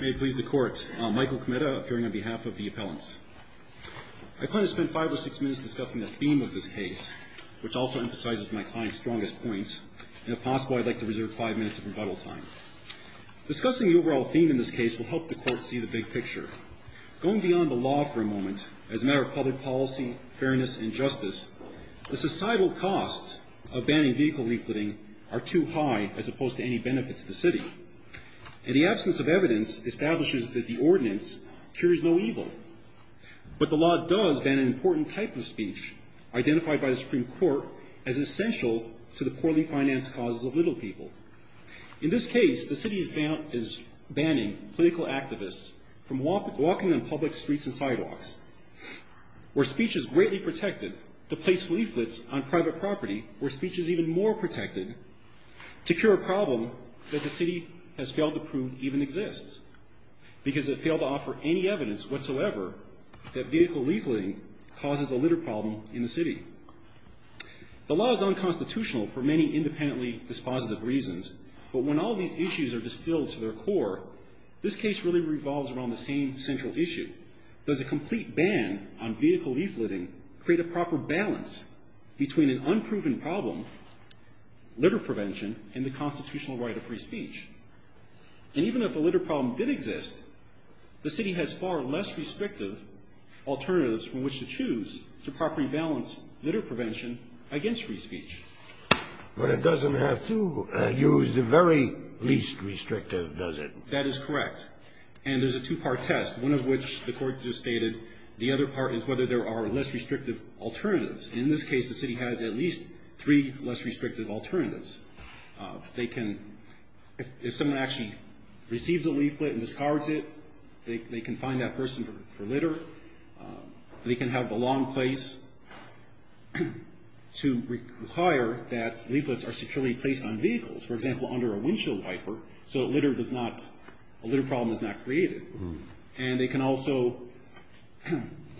May it please the Court, Michael Kometa appearing on behalf of the appellants. I plan to spend five or six minutes discussing the theme of this case, which also emphasizes my client's strongest point, and if possible, I'd like to reserve five minutes of rebuttal time. Discussing the overall theme in this case will help the Court see the big picture. Going beyond the law for a moment, as a matter of public policy, fairness, and justice, the societal costs of banning vehicle refitting are too high as opposed to any benefit to the City. In the absence of evidence, establishes that the ordinance cures no evil. But the law does ban an important type of speech, identified by the Supreme Court as essential to the poorly financed causes of little people. In this case, the City is banning political activists from walking on public streets and sidewalks, where speech is greatly protected, to place leaflets on private property, where speech is even more protected, to cure a problem that the City has failed to prove even exists. Because it failed to offer any evidence whatsoever that vehicle leafletting causes a litter problem in the City. The law is unconstitutional for many independently dispositive reasons, but when all of these issues are distilled to their core, this case really revolves around the same central issue. Does a complete ban on vehicle leafletting create a proper balance between an unproven problem, litter prevention, and the constitutional right of free speech? If the problem did exist, the City has far less restrictive alternatives from which to choose to properly balance litter prevention against free speech. But it doesn't have to use the very least restrictive, does it? That is correct. And there's a two-part test, one of which the Court just stated, the other part is whether there are less restrictive alternatives. In this case, the City has at least three less restrictive alternatives. If someone actually receives a leaflet and discards it, they can find that person for litter. They can have a long place to require that leaflets are securely placed on vehicles, for example, under a windshield wiper, so a litter problem is not created. And they can also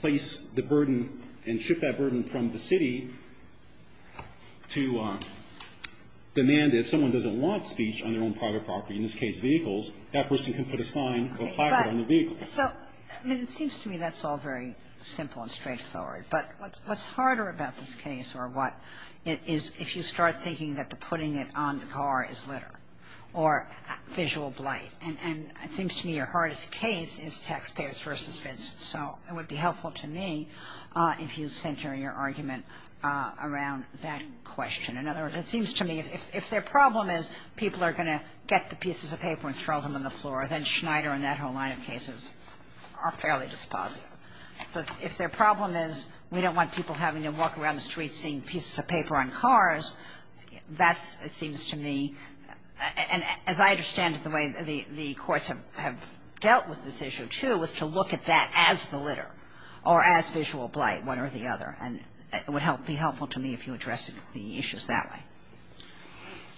place the burden and the burden on the City to demand that if someone doesn't want speech on their own private property, in this case, vehicles, that person can put a sign with fiber on the vehicle. But, so, I mean, it seems to me that's all very simple and straightforward. But what's harder about this case, or what, is if you start thinking that the putting it on the car is litter, or visual blight. And it seems to me your hardest case is taxpayers versus fence. So it would be helpful to me if you center your argument around that question. In other words, it seems to me if their problem is people are going to get the pieces of paper and throw them on the floor, then Schneider and that whole line of cases are fairly dispositive. But if their problem is we don't want people having to walk around the streets seeing pieces of paper on cars, that's, it seems to me, and as I understand it, the way the courts have dealt with this issue, too, is to look at that as the litter, or as visual blight, one or the other. And it would be helpful to me if you addressed the issues that way.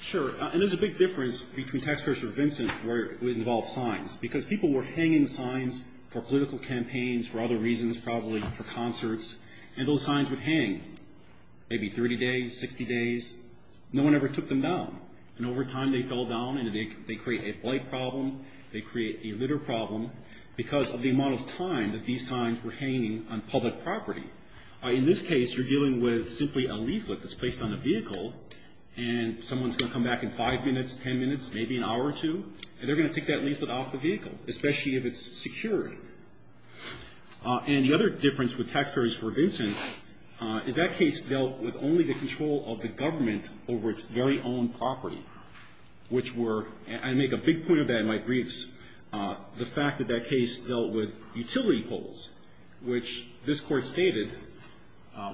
Sure. And there's a big difference between taxpayers for Vincent where it would involve signs. Because people were hanging signs for political campaigns, for other reasons, probably for concerts. And those signs would hang maybe 30 days, 60 days. No one ever took them down. And over time, they fell down, and they create a blight problem, they create a litter problem, because of the amount of time that these signs were hanging on public property. In this case, you're dealing with simply a leaflet that's placed on a vehicle, and someone's going to come back in 5 minutes, 10 minutes, maybe an hour or two, and they're going to take that leaflet off the vehicle, especially if it's security. And the other difference with taxpayers for Vincent is that case dealt with only the control of the government over its very own property, which were, and I make a big point of that in my briefs, the fact that that case dealt with utility poles, which this Court stated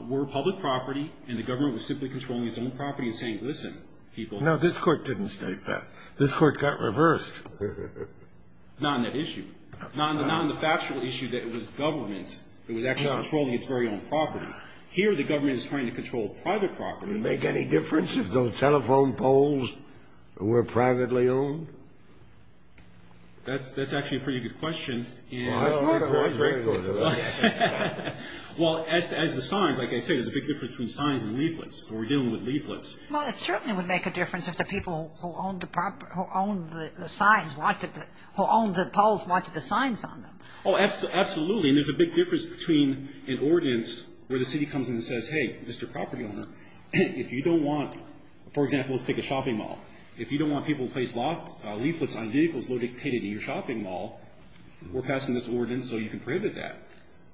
were public property, and the government was simply controlling its own property and saying, listen, people. No, this Court didn't state that. This Court got reversed. Not on that issue. Not on the factual issue that it was government that was actually controlling its very own property. Here, the government is trying to control private property. Would it make any difference if those telephone poles were privately owned? That's actually a pretty good question. Well, I agree with that. Well, as the signs, like I said, there's a big difference between signs and leaflets, when we're dealing with leaflets. Well, it certainly would make a difference if the people who owned the signs wanted the, who owned the poles wanted the signs on them. Oh, absolutely. And there's a big difference between an ordinance where the owner, if you don't want, for example, let's take a shopping mall. If you don't want people to place leaflets on vehicles located in your shopping mall, we're passing this ordinance so you can prohibit that.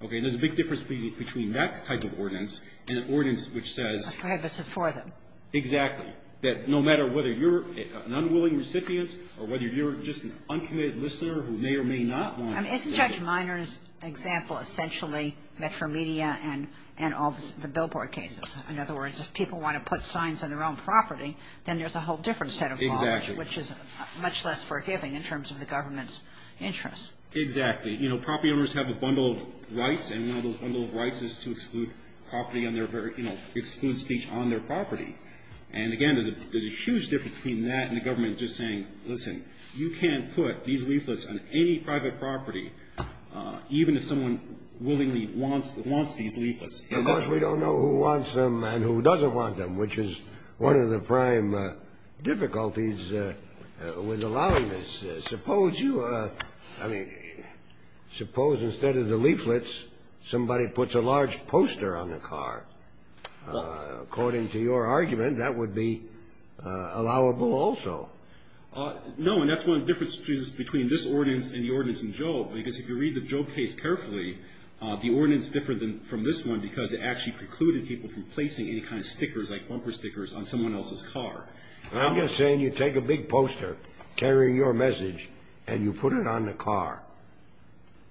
Okay. And there's a big difference between that type of ordinance and an ordinance which says — A prohibition for them. Exactly. That no matter whether you're an unwilling recipient or whether you're just an uncommitted listener who may or may not want — I mean, isn't Judge Minor's example essentially Metro Media and all the billboard cases? In other words, if people want to put signs on their own property, then there's a whole different set of laws. Exactly. Which is much less forgiving in terms of the government's interests. Exactly. You know, property owners have a bundle of rights, and one of those bundle of rights is to exclude property on their — you know, exclude speech on their property. And again, there's a huge difference between that and the government just saying, listen, you can't put these leaflets on any private property, even if someone willingly wants these leaflets. Of course, we don't know who wants them and who doesn't want them, which is one of the prime difficulties with allowing this. Suppose you — I mean, suppose instead of the leaflets, somebody puts a large poster on the car. Well. According to your argument, that would be allowable also. No. Because if you read the Joe case carefully, the ordinance differed from this one because it actually precluded people from placing any kind of stickers, like bumper stickers, on someone else's car. I'm just saying you take a big poster carrying your message and you put it on the car.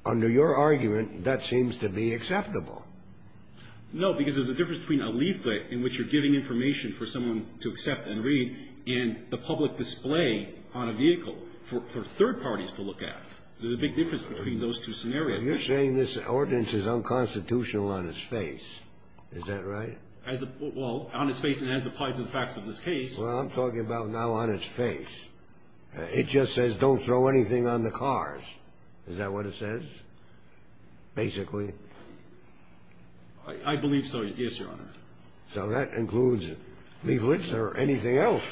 Under your argument, that seems to be acceptable. No, because there's a difference between a leaflet in which you're giving information for someone to accept and read and the public display on a vehicle for third parties to look at. There's a big difference between those two scenarios. You're saying this ordinance is unconstitutional on its face. Is that right? As a — well, on its face and as applied to the facts of this case. Well, I'm talking about now on its face. It just says don't throw anything on the cars. Is that what it says, basically? I believe so, yes, Your Honor. So that includes leaflets or anything else.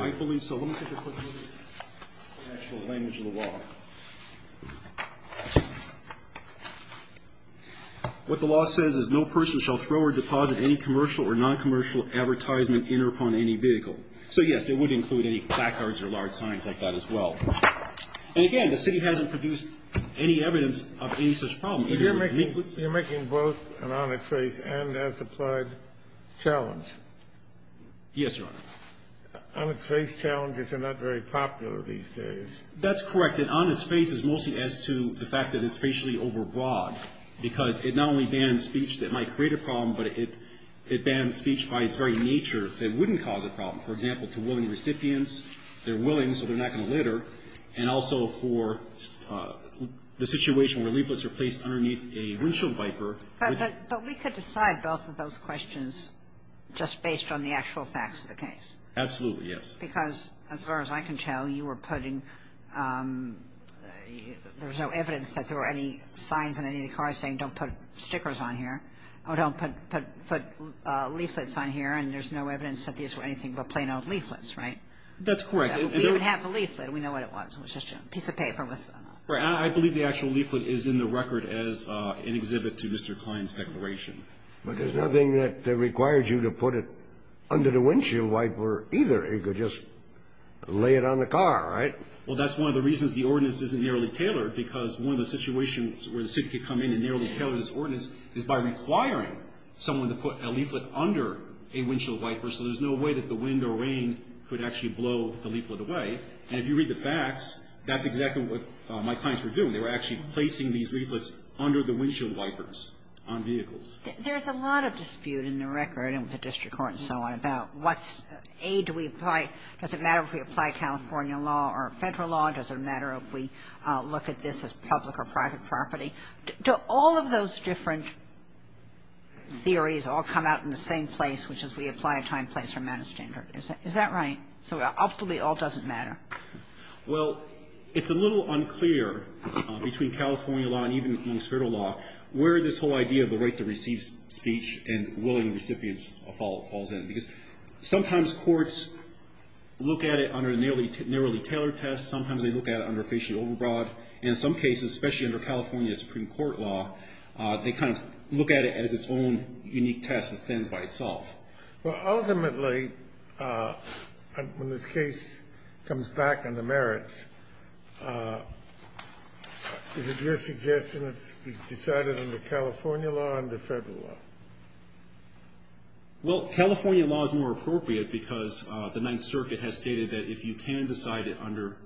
I believe so. Let me take a quick look at the actual language of the law. What the law says is no person shall throw or deposit any commercial or noncommercial advertisement in or upon any vehicle. So, yes, it would include any backyards or large signs like that as well. And, again, the city hasn't produced any evidence of any such problem. You're making both an on its face and as applied challenge. Yes, Your Honor. On its face challenges are not very popular these days. That's correct. And on its face is mostly as to the fact that it's facially overbroad, because it not only bans speech that might create a problem, but it bans speech by its very nature that wouldn't cause a problem. For example, to willing recipients. They're willing, so they're not going to litter. And also for the situation where leaflets are placed underneath a windshield wiper. But we could decide both of those questions just based on the actual facts of the case. Absolutely, yes. Because as far as I can tell, you were putting – there was no evidence that there were any signs on any of the cars saying don't put stickers on here, or don't put leaflets on here, and there's no evidence that these were anything but plain old leaflets, right? That's correct. We didn't have the leaflet. We know what it was. It was just a piece of paper. I believe the actual leaflet is in the record as an exhibit to Mr. Klein's declaration. But there's nothing that requires you to put it under the windshield wiper, either. You could just lay it on the car, right? Well, that's one of the reasons the ordinance isn't narrowly tailored, because one of the situations where the city could come in and narrowly tailor this ordinance is by requiring someone to put a leaflet under a windshield wiper, so there's no way that the wind or rain could actually blow the leaflet away. And if you read the facts, that's exactly what my clients were doing. They were actually placing these leaflets under the windshield wipers on vehicles. There's a lot of dispute in the record and with the district court and so on about what's, A, do we apply, does it matter if we apply California law or Federal law? Does it matter if we look at this as public or private property? Do all of those different theories all come out in the same place, which is we apply a time, place, or amount of standard. Is that right? So ultimately, it all doesn't matter. Well, it's a little unclear between California law and even among Federal law where this whole idea of the right to receive speech and willing recipients falls in. Because sometimes courts look at it under a narrowly tailored test. Sometimes they look at it under facial overbroad. And in some cases, especially under California Supreme Court law, they kind of look at it as its own unique test that stands by itself. Well, ultimately, when this case comes back on the merits, is it your suggestion that it should be decided under California law or under Federal law? Well, California law is more appropriate because the Ninth Circuit has stated that if you can decide it under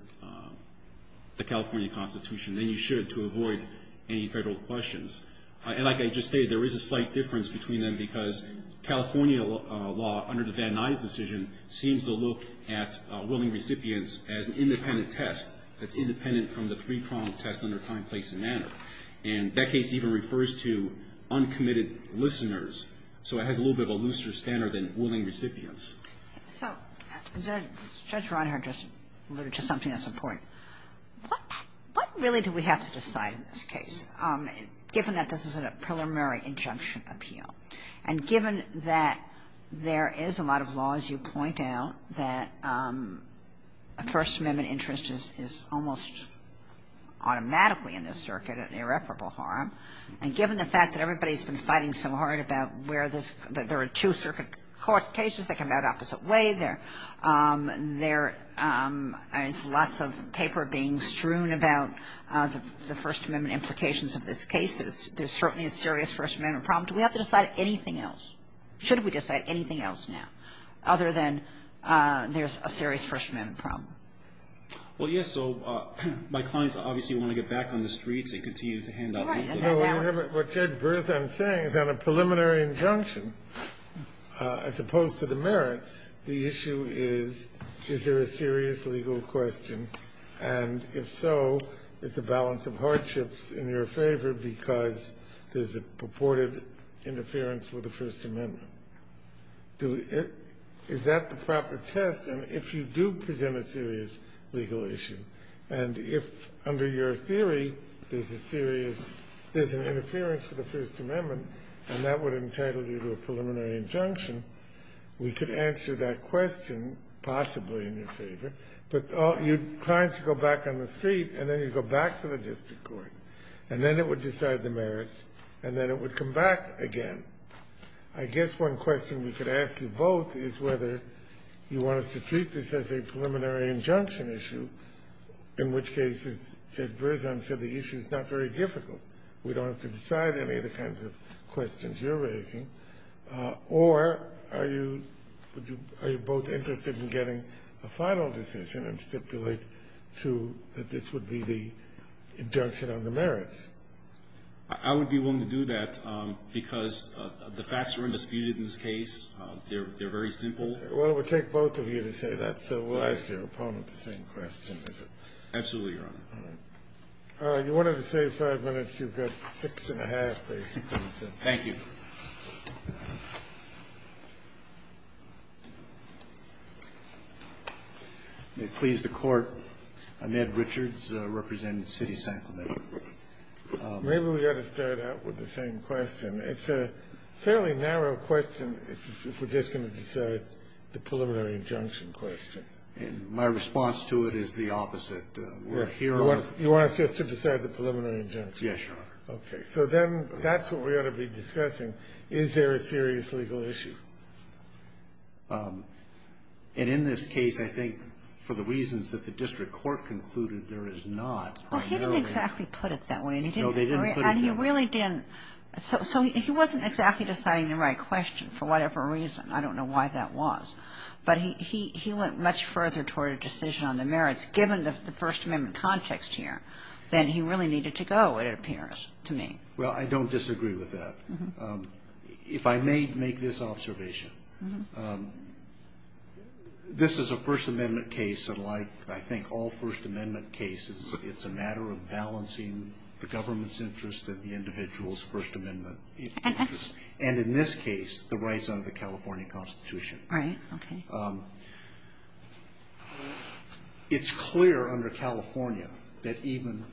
the California Constitution, then you should to avoid any Federal questions. And like I just stated, there is a slight difference between them because California law under the Van Nuys decision seems to look at willing recipients as an independent test that's independent from the three-pronged test under time, place, and manner. And that case even refers to uncommitted listeners. So it has a little bit of a looser standard than willing recipients. So Judge Ronhart just alluded to something that's important. What really do we have to decide in this case? Given that this is a preliminary injunction appeal, and given that there is a lot of law, as you point out, that a First Amendment interest is almost automatically in this circuit, an irreparable harm, and given the fact that everybody has been fighting so hard about where this – there are two circuit court cases that come out opposite way, there's lots of paper being strewn about the First Amendment implications of this case, there's certainly a serious First Amendment problem. Do we have to decide anything else? Should we decide anything else now other than there's a serious First Amendment problem? Well, yes. So my clients obviously want to get back on the streets and continue to hand out leaflets. What Judge Bertham is saying is on a preliminary injunction, as opposed to the merits, the issue is, is there a serious legal question? And if so, is the balance of hardships in your favor because there's a purported interference with the First Amendment? Is that the proper test? And if you do present a serious legal issue, and if under your theory there's a serious – there's an interference with the First Amendment, and that would entitle you to a preliminary injunction, we could answer that question possibly in your favor. But your clients go back on the street, and then you go back to the district court, and then it would decide the merits, and then it would come back again. I guess one question we could ask you both is whether you want us to treat this as a preliminary injunction issue, in which case, as Judge Bertham said, the issue is not very difficult. We don't have to decide any of the kinds of questions you're raising. Or are you – are you both interested in getting a final decision and stipulate to that this would be the injunction on the merits? I would be willing to do that, because the facts are undisputed in this case. They're very simple. Well, it would take both of you to say that, so we'll ask your opponent the same question, is it? Absolutely, Your Honor. All right. You wanted to save five minutes. You've got six and a half, basically. Thank you. May it please the Court. Ned Richards, representing the City of San Clemente. Maybe we ought to start out with the same question. It's a fairly narrow question if we're just going to decide the preliminary injunction question. My response to it is the opposite. You want us just to decide the preliminary injunction? Yes, Your Honor. Okay. So then that's what we ought to be discussing. Is there a serious legal issue? And in this case, I think for the reasons that the district court concluded there is not primarily – Well, he didn't exactly put it that way. No, they didn't put it that way. And he really didn't. So he wasn't exactly deciding the right question for whatever reason. I don't know why that was. But he went much further toward a decision on the merits. Given the First Amendment context here, then he really needed to go, it appears to me. Well, I don't disagree with that. If I may make this observation, this is a First Amendment case, and like I think all First Amendment cases, it's a matter of balancing the government's interest and the individual's First Amendment interest. And in this case, the rights under the California Constitution. Right. Okay. It's clear under California that even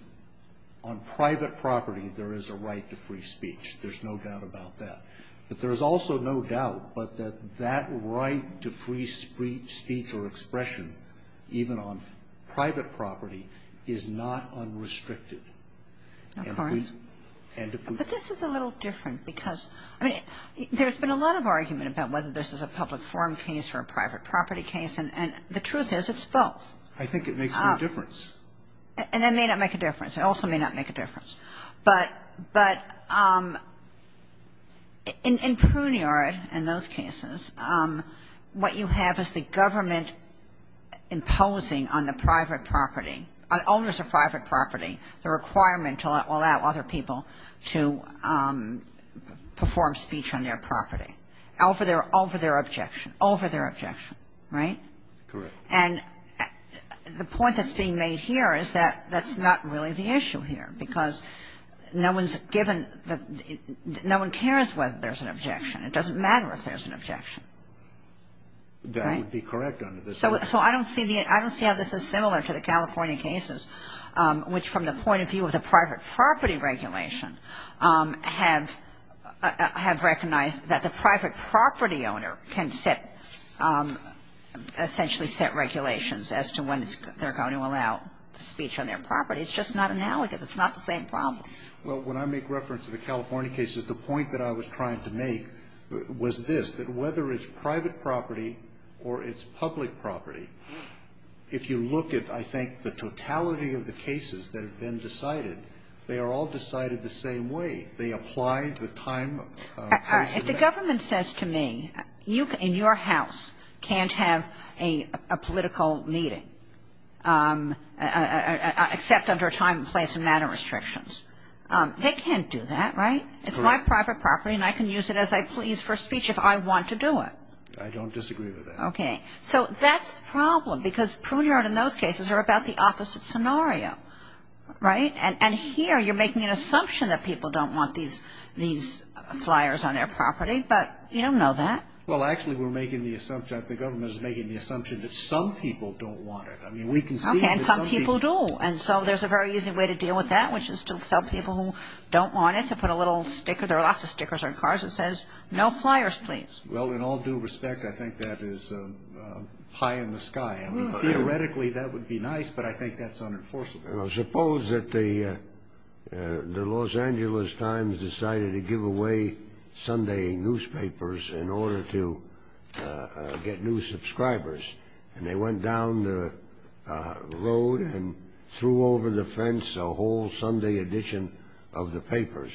on private property, there is a right to free speech. There's no doubt about that. But there's also no doubt that that right to free speech or expression, even on private property, is not unrestricted. Of course. And if we – But this is a little different because, I mean, there's been a lot of argument about whether this is a public forum case or a private property case, and the truth is it's both. I think it makes no difference. And it may not make a difference. It also may not make a difference. But in Pruniard and those cases, what you have is the government imposing on the private property, on owners of private property, the requirement to allow other people to perform speech on their property. Over their objection. Over their objection. Right? Correct. And the point that's being made here is that that's not really the issue here because no one's given – no one cares whether there's an objection. It doesn't matter if there's an objection. That would be correct under this. So I don't see how this is similar to the California cases, which from the point of view of the private property regulation, have recognized that the private property owner can set – essentially set regulations as to when they're going to allow speech on their property. It's just not analogous. It's not the same problem. Well, when I make reference to the California cases, the point that I was trying to make was this, that whether it's private property or it's public property, if you look at, I think, the totality of the cases that have been decided, they are all decided the same way. They apply the time place and manner. All right. If the government says to me, in your house can't have a political meeting except under time and place and manner restrictions, they can't do that. Right? Correct. It's my private property and I can use it as I please for speech if I want to do it. I don't disagree with that. Okay. So that's the problem because Pruniard and those cases are about the opposite scenario. Right? And here you're making an assumption that people don't want these flyers on their property, but you don't know that. Well, actually, we're making the assumption, the government is making the assumption that some people don't want it. I mean, we can see that some people do. And so there's a very easy way to deal with that, which is to tell people who don't want it to put a little sticker. There are lots of stickers on cars that says, no flyers, please. Well, in all due respect, I think that is pie in the sky. Theoretically, that would be nice, but I think that's unenforceable. Well, suppose that the Los Angeles Times decided to give away Sunday newspapers in order to get new subscribers, and they went down the road and threw over the fence a whole Sunday edition of the papers,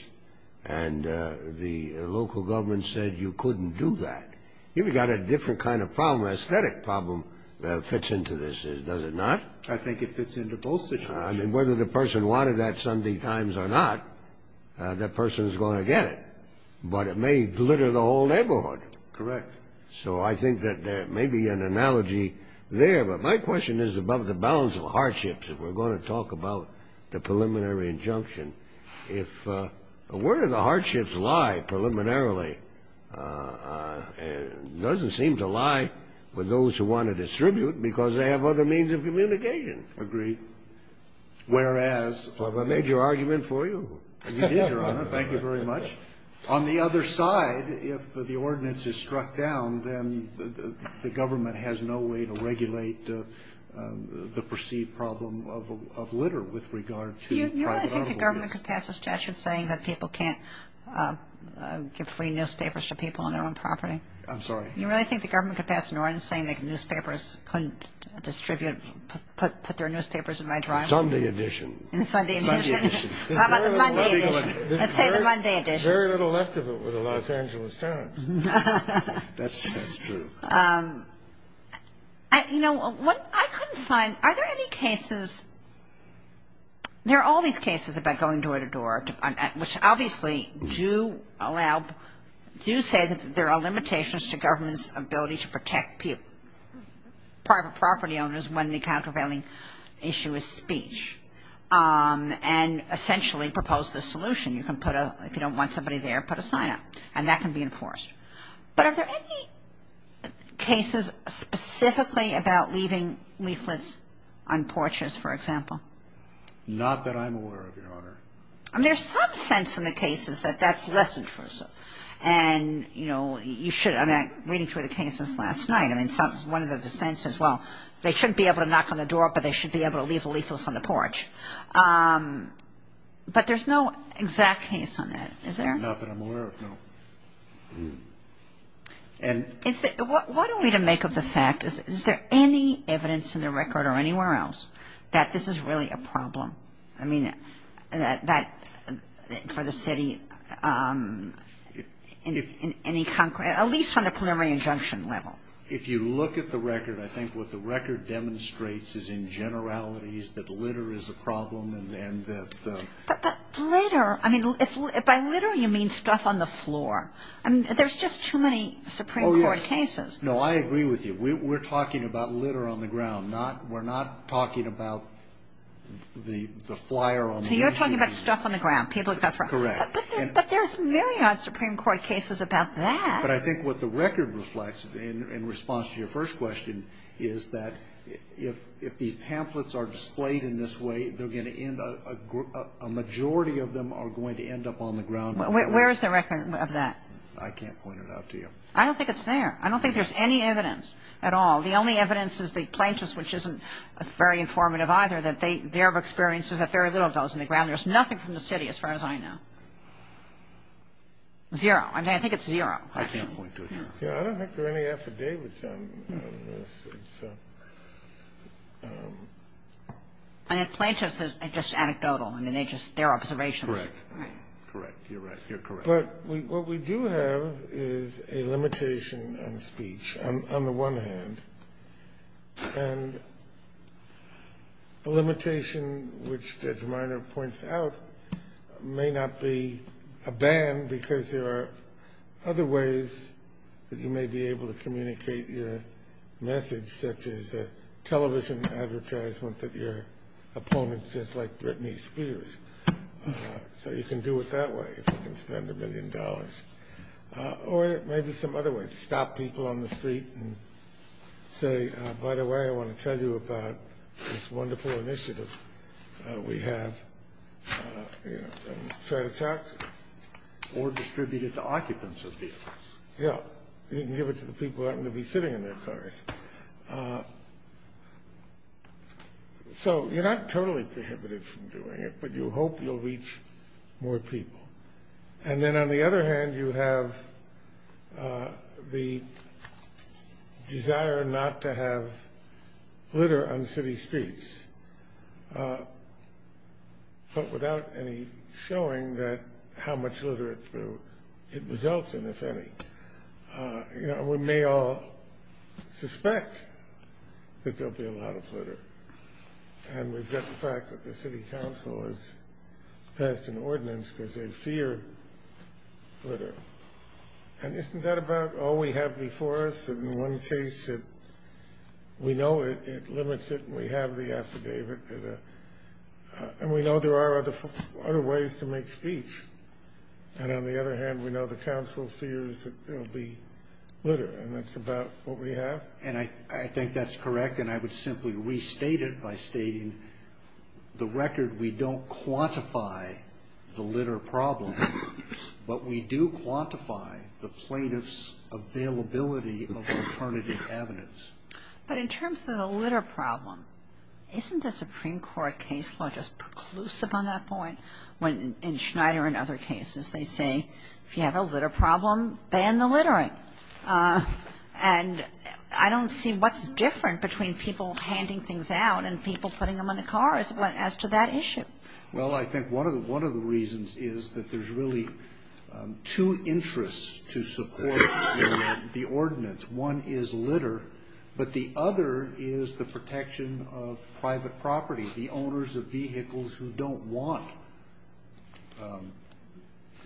and the local government said you couldn't do that. You've got a different kind of problem. An aesthetic problem fits into this. Does it not? I think it fits into both situations. I mean, whether the person wanted that Sunday Times or not, that person is going to get it. But it may glitter the whole neighborhood. Correct. So I think that there may be an analogy there. But my question is about the balance of hardships. If we're going to talk about the preliminary injunction, where do the hardships lie preliminarily? It doesn't seem to lie with those who want to distribute because they have other means of communication. Agreed. Whereas? Have I made your argument for you? You did, Your Honor. Thank you very much. On the other side, if the ordinance is struck down, then the government has no way to regulate the perceived problem of litter with regard to private automobiles. Do you really think the government could pass a statute saying that people can't give free newspapers to people on their own property? I'm sorry? Do you really think the government could pass an ordinance saying that newspapers couldn't distribute, put their newspapers in my driveway? Sunday edition. Sunday edition. How about the Monday edition? Let's say the Monday edition. There's very little left of it with the Los Angeles Times. That's true. You know, what I couldn't find, are there any cases, there are all these cases about going door to door, which obviously do allow, do say that there are limitations to government's ability to protect private property owners when the countervailing issue is speech, and essentially propose the solution. You can put a, if you don't want somebody there, put a sign up, and that can be enforced. But are there any cases specifically about leaving leaflets on porches, for example? Not that I'm aware of, Your Honor. I mean, there's some sense in the cases that that's less intrusive. And, you know, you should, I mean, I'm reading through the cases last night. I mean, one of the dissents says, well, they shouldn't be able to knock on the door, but they should be able to leave the leaflets on the porch. But there's no exact case on that, is there? Not that I'm aware of, no. What are we to make of the fact, is there any evidence in the record or anywhere else, that this is really a problem? I mean, that for the city, any concrete, at least on a preliminary injunction level. If you look at the record, I think what the record demonstrates is in generalities, that litter is a problem, and that... But litter, I mean, by litter you mean stuff on the floor. I mean, there's just too many Supreme Court cases. No, I agree with you. We're talking about litter on the ground. We're not talking about the flyer on the wall. So you're talking about stuff on the ground. Correct. But there's myriad Supreme Court cases about that. But I think what the record reflects in response to your first question is that if the pamphlets are displayed in this way, they're going to end up, a majority of them are going to end up on the ground. Where is the record of that? I can't point it out to you. I don't think it's there. I don't think there's any evidence at all. The only evidence is the plaintiffs, which isn't very informative either, that they have experiences that very little of those on the ground. There's nothing from the city as far as I know. Zero. I think it's zero. I can't point to it. I don't think there are any affidavits on this. And the plaintiffs are just anecdotal. I mean, they're just observations. Correct. Correct. You're right. You're correct. But what we do have is a limitation on speech, on the one hand, and a limitation which Judge Minor points out may not be a ban because there are other ways that you may be able to communicate your message, such as a television advertisement that your opponent says like Britney Spears. So you can do it that way if you can spend a million dollars. Or maybe some other way, stop people on the street and say, by the way, I want to tell you about this wonderful initiative we have. You know, try to talk. Or distribute it to occupants of vehicles. Yeah. You can give it to the people who happen to be sitting in their cars. So you're not totally prohibited from doing it, but you hope you'll reach more people. And then on the other hand, you have the desire not to have litter on city streets, but without any showing that how much litter it results in, if any. You know, we may all suspect that there will be a lot of litter. And we get the fact that the city council has passed an ordinance because they fear litter. And isn't that about all we have before us? In one case, we know it limits it, and we have the affidavit. And we know there are other ways to make speech. And on the other hand, we know the council fears that there will be litter. And that's about what we have. And I think that's correct, and I would simply restate it by stating, the record we don't quantify the litter problem, but we do quantify the plaintiff's availability of alternative evidence. But in terms of the litter problem, isn't the Supreme Court case law just preclusive on that point? When in Schneider and other cases, they say, if you have a litter problem, ban the littering. And I don't see what's different between people handing things out and people putting them on the cars as to that issue. Well, I think one of the reasons is that there's really two interests to support the ordinance. One is litter, but the other is the protection of private property, the owners of vehicles who don't want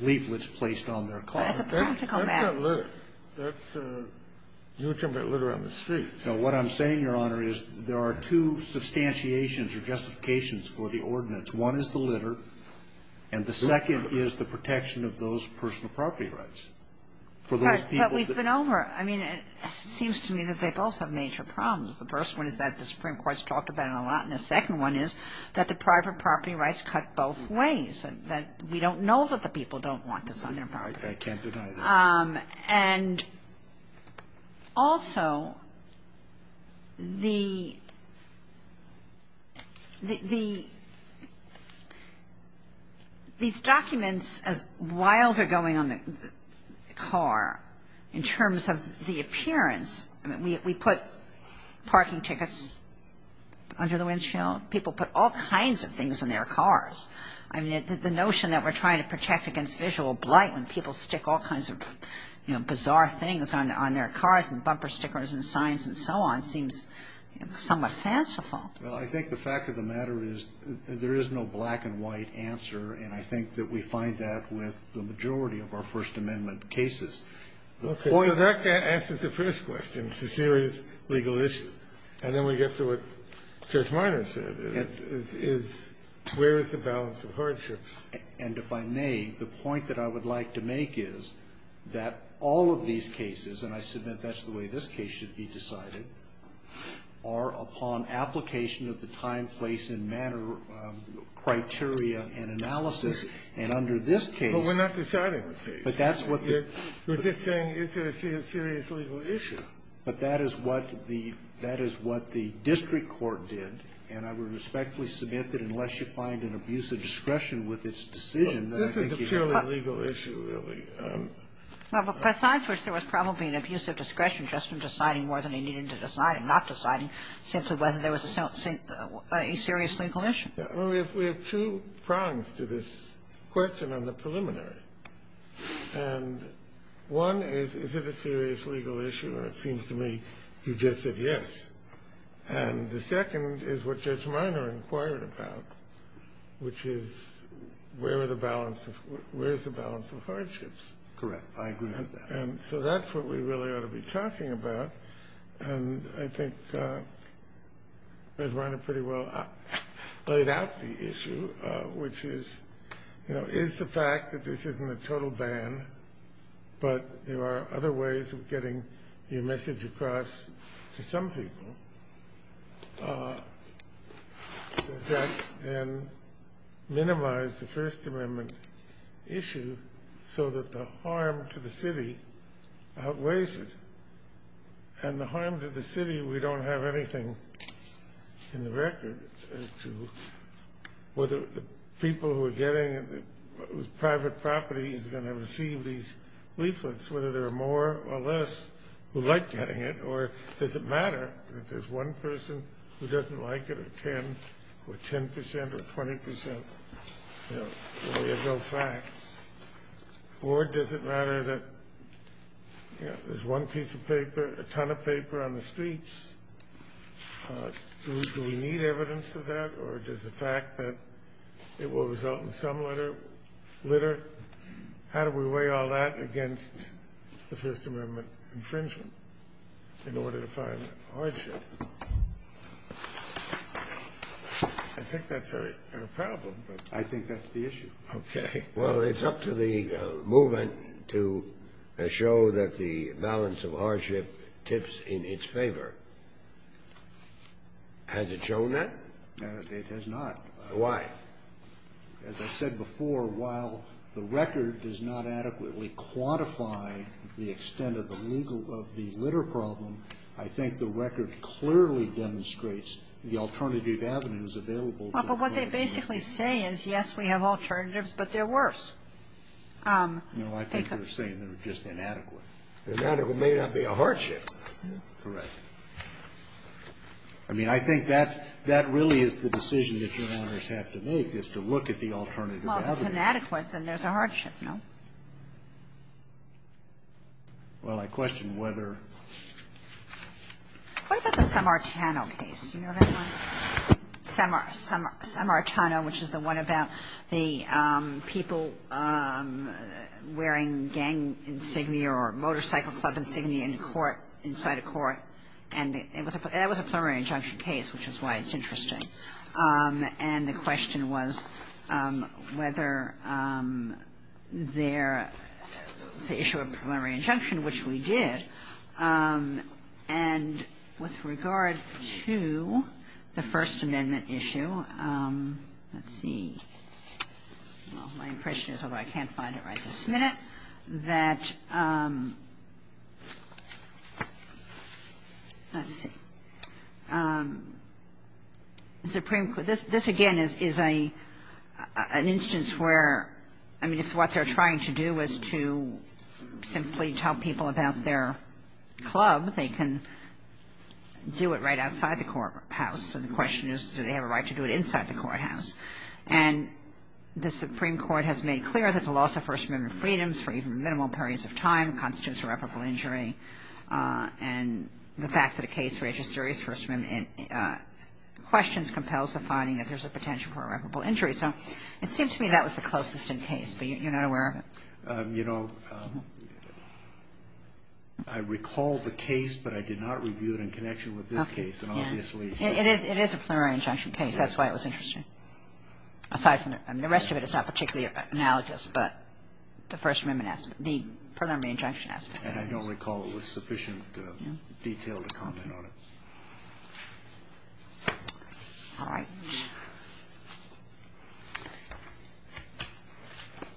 leaflets placed on their cars. That's a practical matter. That's not litter. You're talking about litter on the streets. What I'm saying, Your Honor, is there are two substantiations or justifications for the ordinance. One is the litter, and the second is the protection of those personal property rights for those people. But we've been over it. I mean, it seems to me that they both have major problems. The first one is that the Supreme Court's talked about it a lot, and the second one is that the private property rights cut both ways, and that we don't know that the people don't want this on their property. I can't deny that. And also, these documents, as wild are going on the car, in terms of the appearance, I mean, we put parking tickets under the windshield. People put all kinds of things on their cars. I mean, the notion that we're trying to protect against visual blight when people stick all kinds of, you know, bizarre things on their cars and bumper stickers and signs and so on seems somewhat fanciful. Well, I think the fact of the matter is there is no black and white answer, and I think that we find that with the majority of our First Amendment cases. Okay. So that answers the first question. It's a serious legal issue. And then we get to what Judge Miner said, is where is the balance of hardships? And if I may, the point that I would like to make is that all of these cases, and I submit that's the way this case should be decided, are upon application of the time, place, and manner criteria and analysis. And under this case But we're not deciding the case. But that's what the We're just saying is there a serious legal issue. But that is what the district court did, and I would respectfully submit that unless you find an abuse of discretion with its decision, then I think you have a problem. This is a purely legal issue, really. Well, but besides which, there was probably an abuse of discretion just in deciding more than he needed to decide and not deciding simply whether there was a serious legal issue. We have two prongs to this question on the preliminary. And one is, is it a serious legal issue? Or it seems to me you just said yes. And the second is what Judge Miner inquired about, which is where is the balance of hardships. Correct. I agree with that. And so that's what we really ought to be talking about. And I think Judge Miner pretty well laid out the issue, which is, you know, is the fact that this isn't a total ban, but there are other ways of getting your message across to some people. Does that then minimize the First Amendment issue so that the harm to the city outweighs it? And the harm to the city, we don't have anything in the record as to whether the people who are getting it, whose private property is going to receive these leaflets, whether there are more or less who like getting it, or does it matter that there's one person who doesn't like it, or 10, or 10 percent, or 20 percent? You know, there's no facts. Or does it matter that, you know, there's one piece of paper, a ton of paper on the streets? Do we need evidence of that? Or does the fact that it will result in some litter, how do we weigh all that against the First Amendment infringement in order to find hardship? I think that's a problem. I think that's the issue. Okay. Well, it's up to the movement to show that the balance of hardship tips in its favor. Has it shown that? It has not. Why? As I said before, while the record does not adequately quantify the extent of the legal of the litter problem, I think the record clearly demonstrates the alternative avenues available. Well, but what they basically say is, yes, we have alternatives, but they're worse. No. I think they're saying they're just inadequate. Inadequate may not be a hardship. Correct. I mean, I think that really is the decision that Your Honors have to make, is to look at the alternative avenues. Well, if it's inadequate, then there's a hardship, no? Well, I question whether. What about the Samartano case? Do you know that one? Samartano, which is the one about the people wearing gang insignia or motorcycle club insignia in court, inside a court. And it was a preliminary injunction case, which is why it's interesting. And the question was whether there the issue of preliminary injunction, which we did. And with regard to the First Amendment issue, let's see. My impression is, although I can't find it right this minute, that, let's see. The Supreme Court, this again is an instance where, I mean, if what they're trying to do is to simply tell people about their club, they can do it right outside the courthouse. So the question is, do they have a right to do it inside the courthouse? And the Supreme Court has made clear that the loss of First Amendment freedoms for even minimal periods of time constitutes irreparable injury. And the fact that a case registers First Amendment questions compels the finding that there's a potential for irreparable injury. So it seems to me that was the closest in case. But you're not aware of it? You know, I recall the case, but I did not review it in connection with this case. And obviously ---- It is a preliminary injunction case. That's why it was interesting. Aside from the rest of it, it's not particularly analogous, but the First Amendment aspect, the preliminary injunction aspect. And I don't recall it with sufficient detail to comment on it. All right.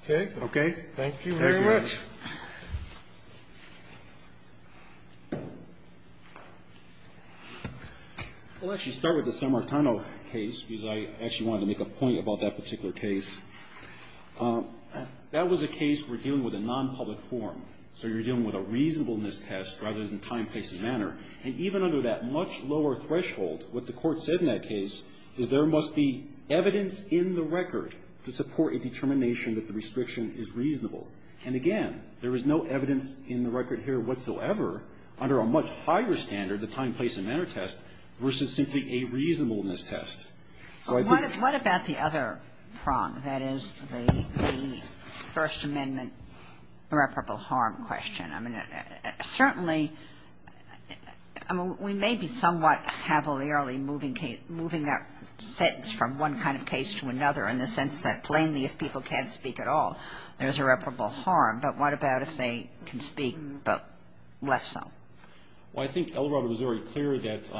Okay? Okay. Thank you very much. Thank you. I'll actually start with the San Martino case, because I actually wanted to make a point about that particular case. That was a case for dealing with a nonpublic forum. So you're dealing with a reasonableness test rather than time, place, and manner. And even under that much lower threshold, what the Court said in that case is there must be evidence in the record to support a determination that the restriction is reasonable. And again, there is no evidence in the record here whatsoever under a much higher standard, the time, place, and manner test, versus simply a reasonableness test. So I think ---- What about the other prong, that is, the First Amendment irreparable harm question? I mean, certainly, I mean, we may be somewhat habitually moving that sentence from one kind of case to another in the sense that plainly if people can't speak at all, there's irreparable harm. But what about if they can speak, but less so? Well, I think Elrod was very clear that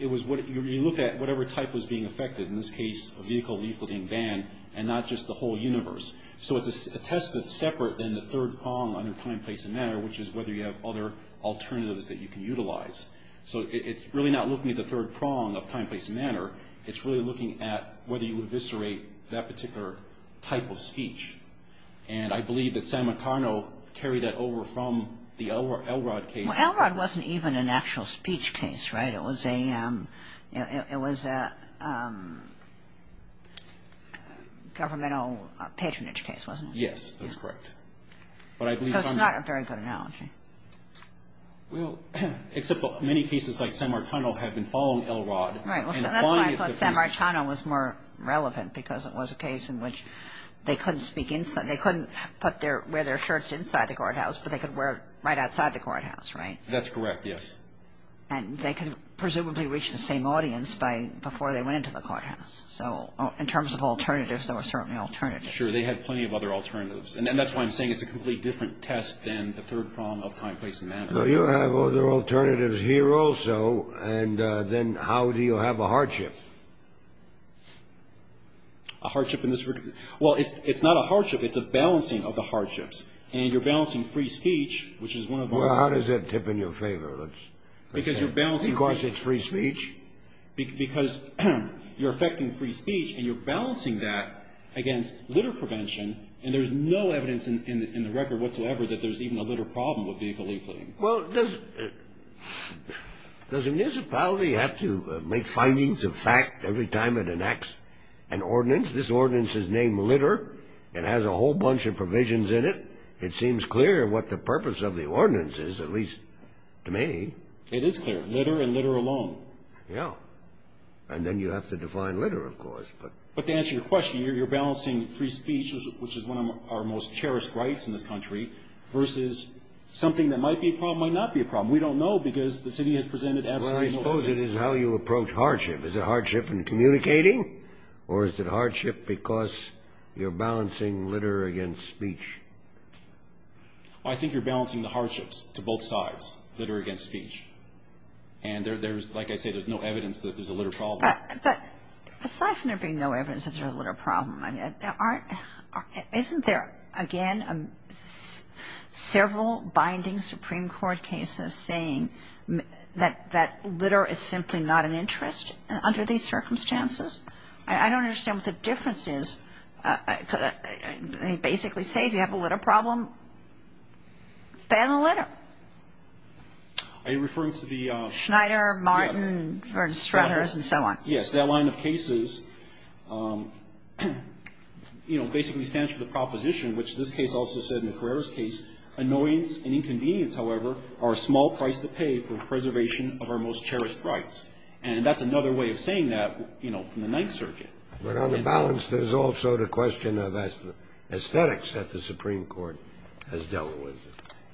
it was what you looked at, whatever type was being affected. In this case, a vehicle lethal being banned, and not just the whole universe. So it's a test that's separate than the third prong under time, place, and manner, which is whether you have other alternatives that you can utilize. So it's really not looking at the third prong of time, place, and manner. It's really looking at whether you would eviscerate that particular type of speech. And I believe that Sam Matano carried that over from the Elrod case. Well, Elrod wasn't even an actual speech case, right? It was a governmental patronage case, wasn't it? Yes, that's correct. But I believe Sam Matano was more relevant because it was a case in which they couldn't speak inside. They couldn't wear their shirts inside the courthouse, but they could wear it right outside the courthouse, right? That's correct, yes. And they could presumably reach the same audience before they went into the courthouse. So in terms of alternatives, there were certainly alternatives. Sure, they had plenty of other alternatives. And that's why I'm saying it's a completely different test than the third prong of time, place, and manner. Well, you have other alternatives here also. And then how do you have a hardship? A hardship in this regard? Well, it's not a hardship. It's a balancing of the hardships. And you're balancing free speech, which is one of the... Well, how does that tip in your favor? Because you're balancing... Of course, it's free speech. Because you're affecting free speech, and you're balancing that against litter prevention, and there's no evidence in the record whatsoever that there's even a litter problem with vehicle leafleting. Well, does a municipality have to make findings of fact every time it enacts an ordinance? This ordinance is named Litter. It has a whole bunch of provisions in it. It seems clear what the purpose of the ordinance is, at least to me. It is clear. Litter and litter alone. Yeah. And then you have to define litter, of course, but... But to answer your question, you're balancing free speech, which is one of our most cherished rights in this country, versus something that might be a problem, might not be a problem. We don't know because the city has presented... Well, I suppose it is how you approach hardship. Is it hardship in communicating, or is it hardship because you're balancing litter against speech? Well, I think you're balancing the hardships to both sides, litter against speech. And there's, like I say, there's no evidence that there's a litter problem. But aside from there being no evidence that there's a litter problem, isn't there, again, several binding Supreme Court cases saying that litter is simply not an interest under these circumstances? I don't understand what the difference is. They basically say if you have a litter problem, ban the litter. Are you referring to the... Schneider, Martin, and so on. Yes, that line of cases, you know, basically stands for the proposition, which this case also said, in Carrera's case, annoyance and inconvenience, however, are a small price to pay for preservation of our most cherished rights. And that's another way of saying that, you know, from the Ninth Circuit. But on the balance, there's also the question of aesthetics that the Supreme Court has dealt with.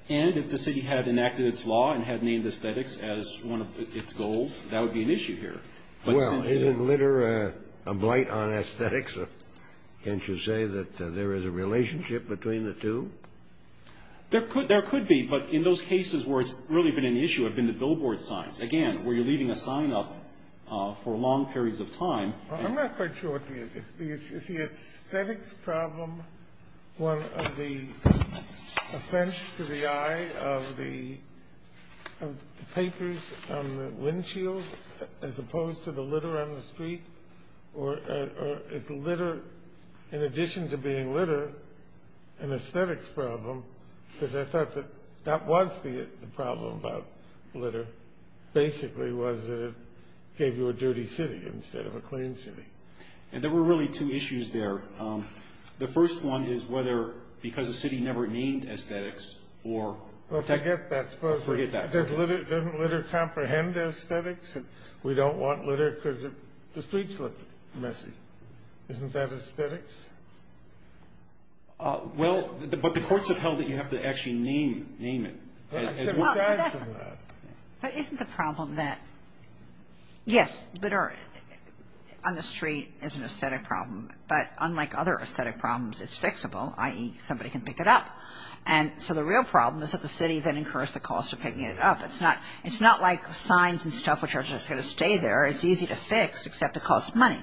And if the city had enacted its law and had named aesthetics as one of its goals, that would be an issue here. Well, isn't litter a blight on aesthetics? Can't you say that there is a relationship between the two? There could be, but in those cases where it's really been an issue have been the billboard signs. Again, where you're leaving a sign up for long periods of time. I'm not quite sure what the issue is. Is the aesthetics problem one of the offense to the eye of the papers on the windshield, as opposed to the litter on the street? Or is litter, in addition to being litter, an aesthetics problem? Because I thought that that was the problem about litter, basically, was that it gave you a dirty city instead of a clean city. And there were really two issues there. The first one is whether because the city never named aesthetics or technical. Well, forget that. Doesn't litter comprehend aesthetics? We don't want litter because the streets look messy. Isn't that aesthetics? Well, but the courts have held that you have to actually name it. But isn't the problem that, yes, litter on the street is an aesthetic problem, but unlike other aesthetic problems, it's fixable, i.e., somebody can pick it up. And so the real problem is that the city then incurs the cost of picking it up. It's not like signs and stuff which are just going to stay there. It's easy to fix, except it costs money.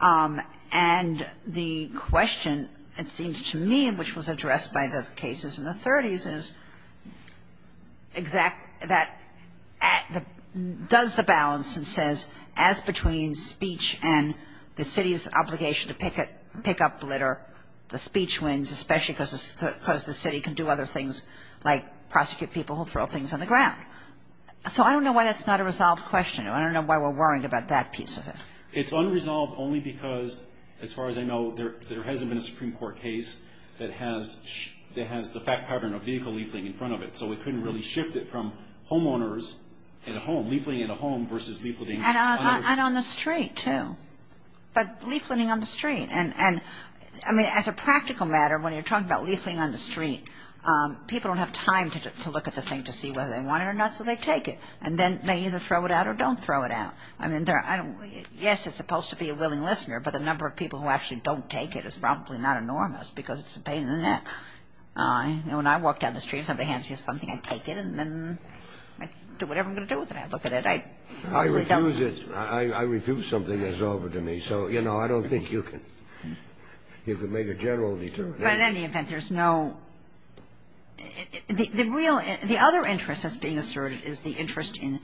And the question, it seems to me, which was addressed by the cases in the 30s, is does the balance, it says, as between speech and the city's obligation to pick up litter, the speech wins, especially because the city can do other things, like prosecute people who throw things on the ground. So I don't know why that's not a resolved question. I don't know why we're worrying about that piece of it. It's unresolved only because, as far as I know, there hasn't been a Supreme Court case that has the fact pattern of vehicle leafleting in front of it. So we couldn't really shift it from homeowners in a home, leafleting in a home, versus leafleting on the street. And on the street, too. But leafleting on the street. And, I mean, as a practical matter, when you're talking about leafleting on the street, people don't have time to look at the thing to see whether they want it or not, so they take it. And then they either throw it out or don't throw it out. I mean, yes, it's supposed to be a willing listener, but the number of people who actually don't take it is probably not enormous, because it's a pain in the neck. You know, when I walk down the street and somebody hands me something, I take it and then I do whatever I'm going to do with it. I look at it. I probably don't. I refuse it. I refuse something that's over to me. So, you know, I don't think you can make a general determination. But in any event, there's no real – The other interest that's being asserted is the interest in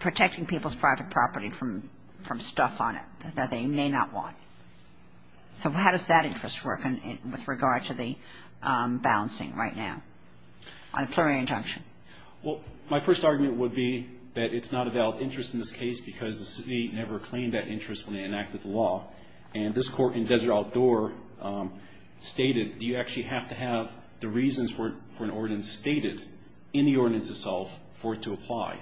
protecting people's private property from stuff on it that they may not want. So how does that interest work with regard to the balancing right now on a plural injunction? Well, my first argument would be that it's not a valid interest in this case because the city never claimed that interest when they enacted the law. And this Court in Desert Outdoor stated, you actually have to have the reasons for an ordinance stated in the ordinance itself for it to apply.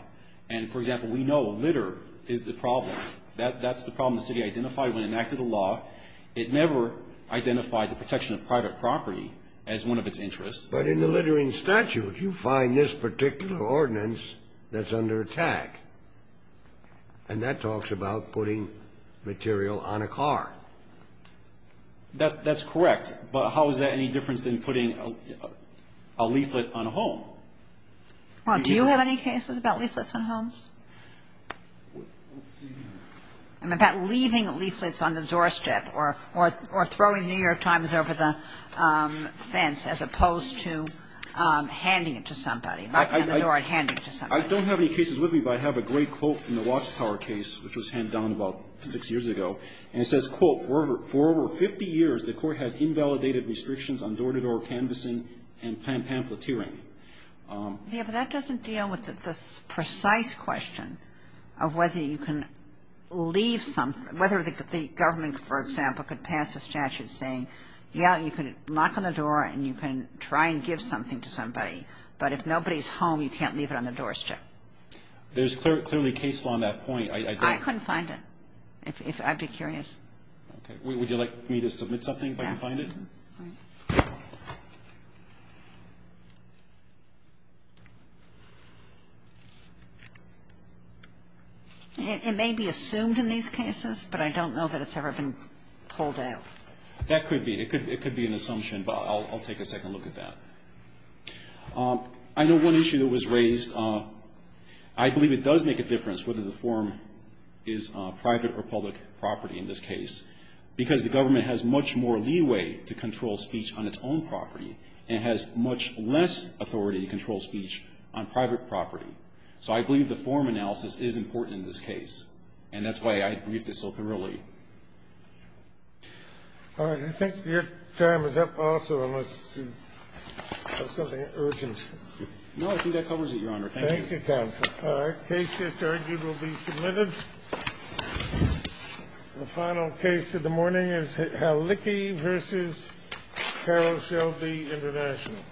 And, for example, we know litter is the problem. That's the problem the city identified when it enacted the law. It never identified the protection of private property as one of its interests. But in the littering statute, you find this particular ordinance that's under attack. And that talks about putting material on a car. That's correct. But how is that any different than putting a leaflet on a home? Well, do you have any cases about leaflets on homes? I'm about leaving leaflets on the doorstep or throwing The New York Times over the fence as opposed to handing it to somebody, knocking on the door and handing it to somebody. I don't have any cases with me, but I have a great quote from the Watchtower case, which was handed down about six years ago. And it says, quote, for over 50 years, the Court has invalidated restrictions on door-to-door canvassing and pamphleteering. Yeah, but that doesn't deal with the precise question of whether you can leave something, whether the government, for example, could pass a statute saying, yeah, you can knock on the door and you can try and give something to somebody, but if nobody's home, you can't leave it on the doorstep. There's clearly a case law on that point. I couldn't find it. I'd be curious. Would you like me to submit something if I can find it? Yeah. It may be assumed in these cases, but I don't know that it's ever been pulled out. That could be. It could be an assumption, but I'll take a second look at that. I know one issue that was raised. I believe it does make a difference whether the form is private or public property in this case, because the government has much more leeway to control speech on its own property and has much less authority to control speech on private property. So I believe the form analysis is important in this case, and that's why I briefed it so thoroughly. All right. I think your time is up also, unless you have something urgent. No, I think that covers it, Your Honor. Thank you. Thank you, Counsel. All right. Case just argued will be submitted. The final case of the morning is Hallicky v. Carroll Shelby International.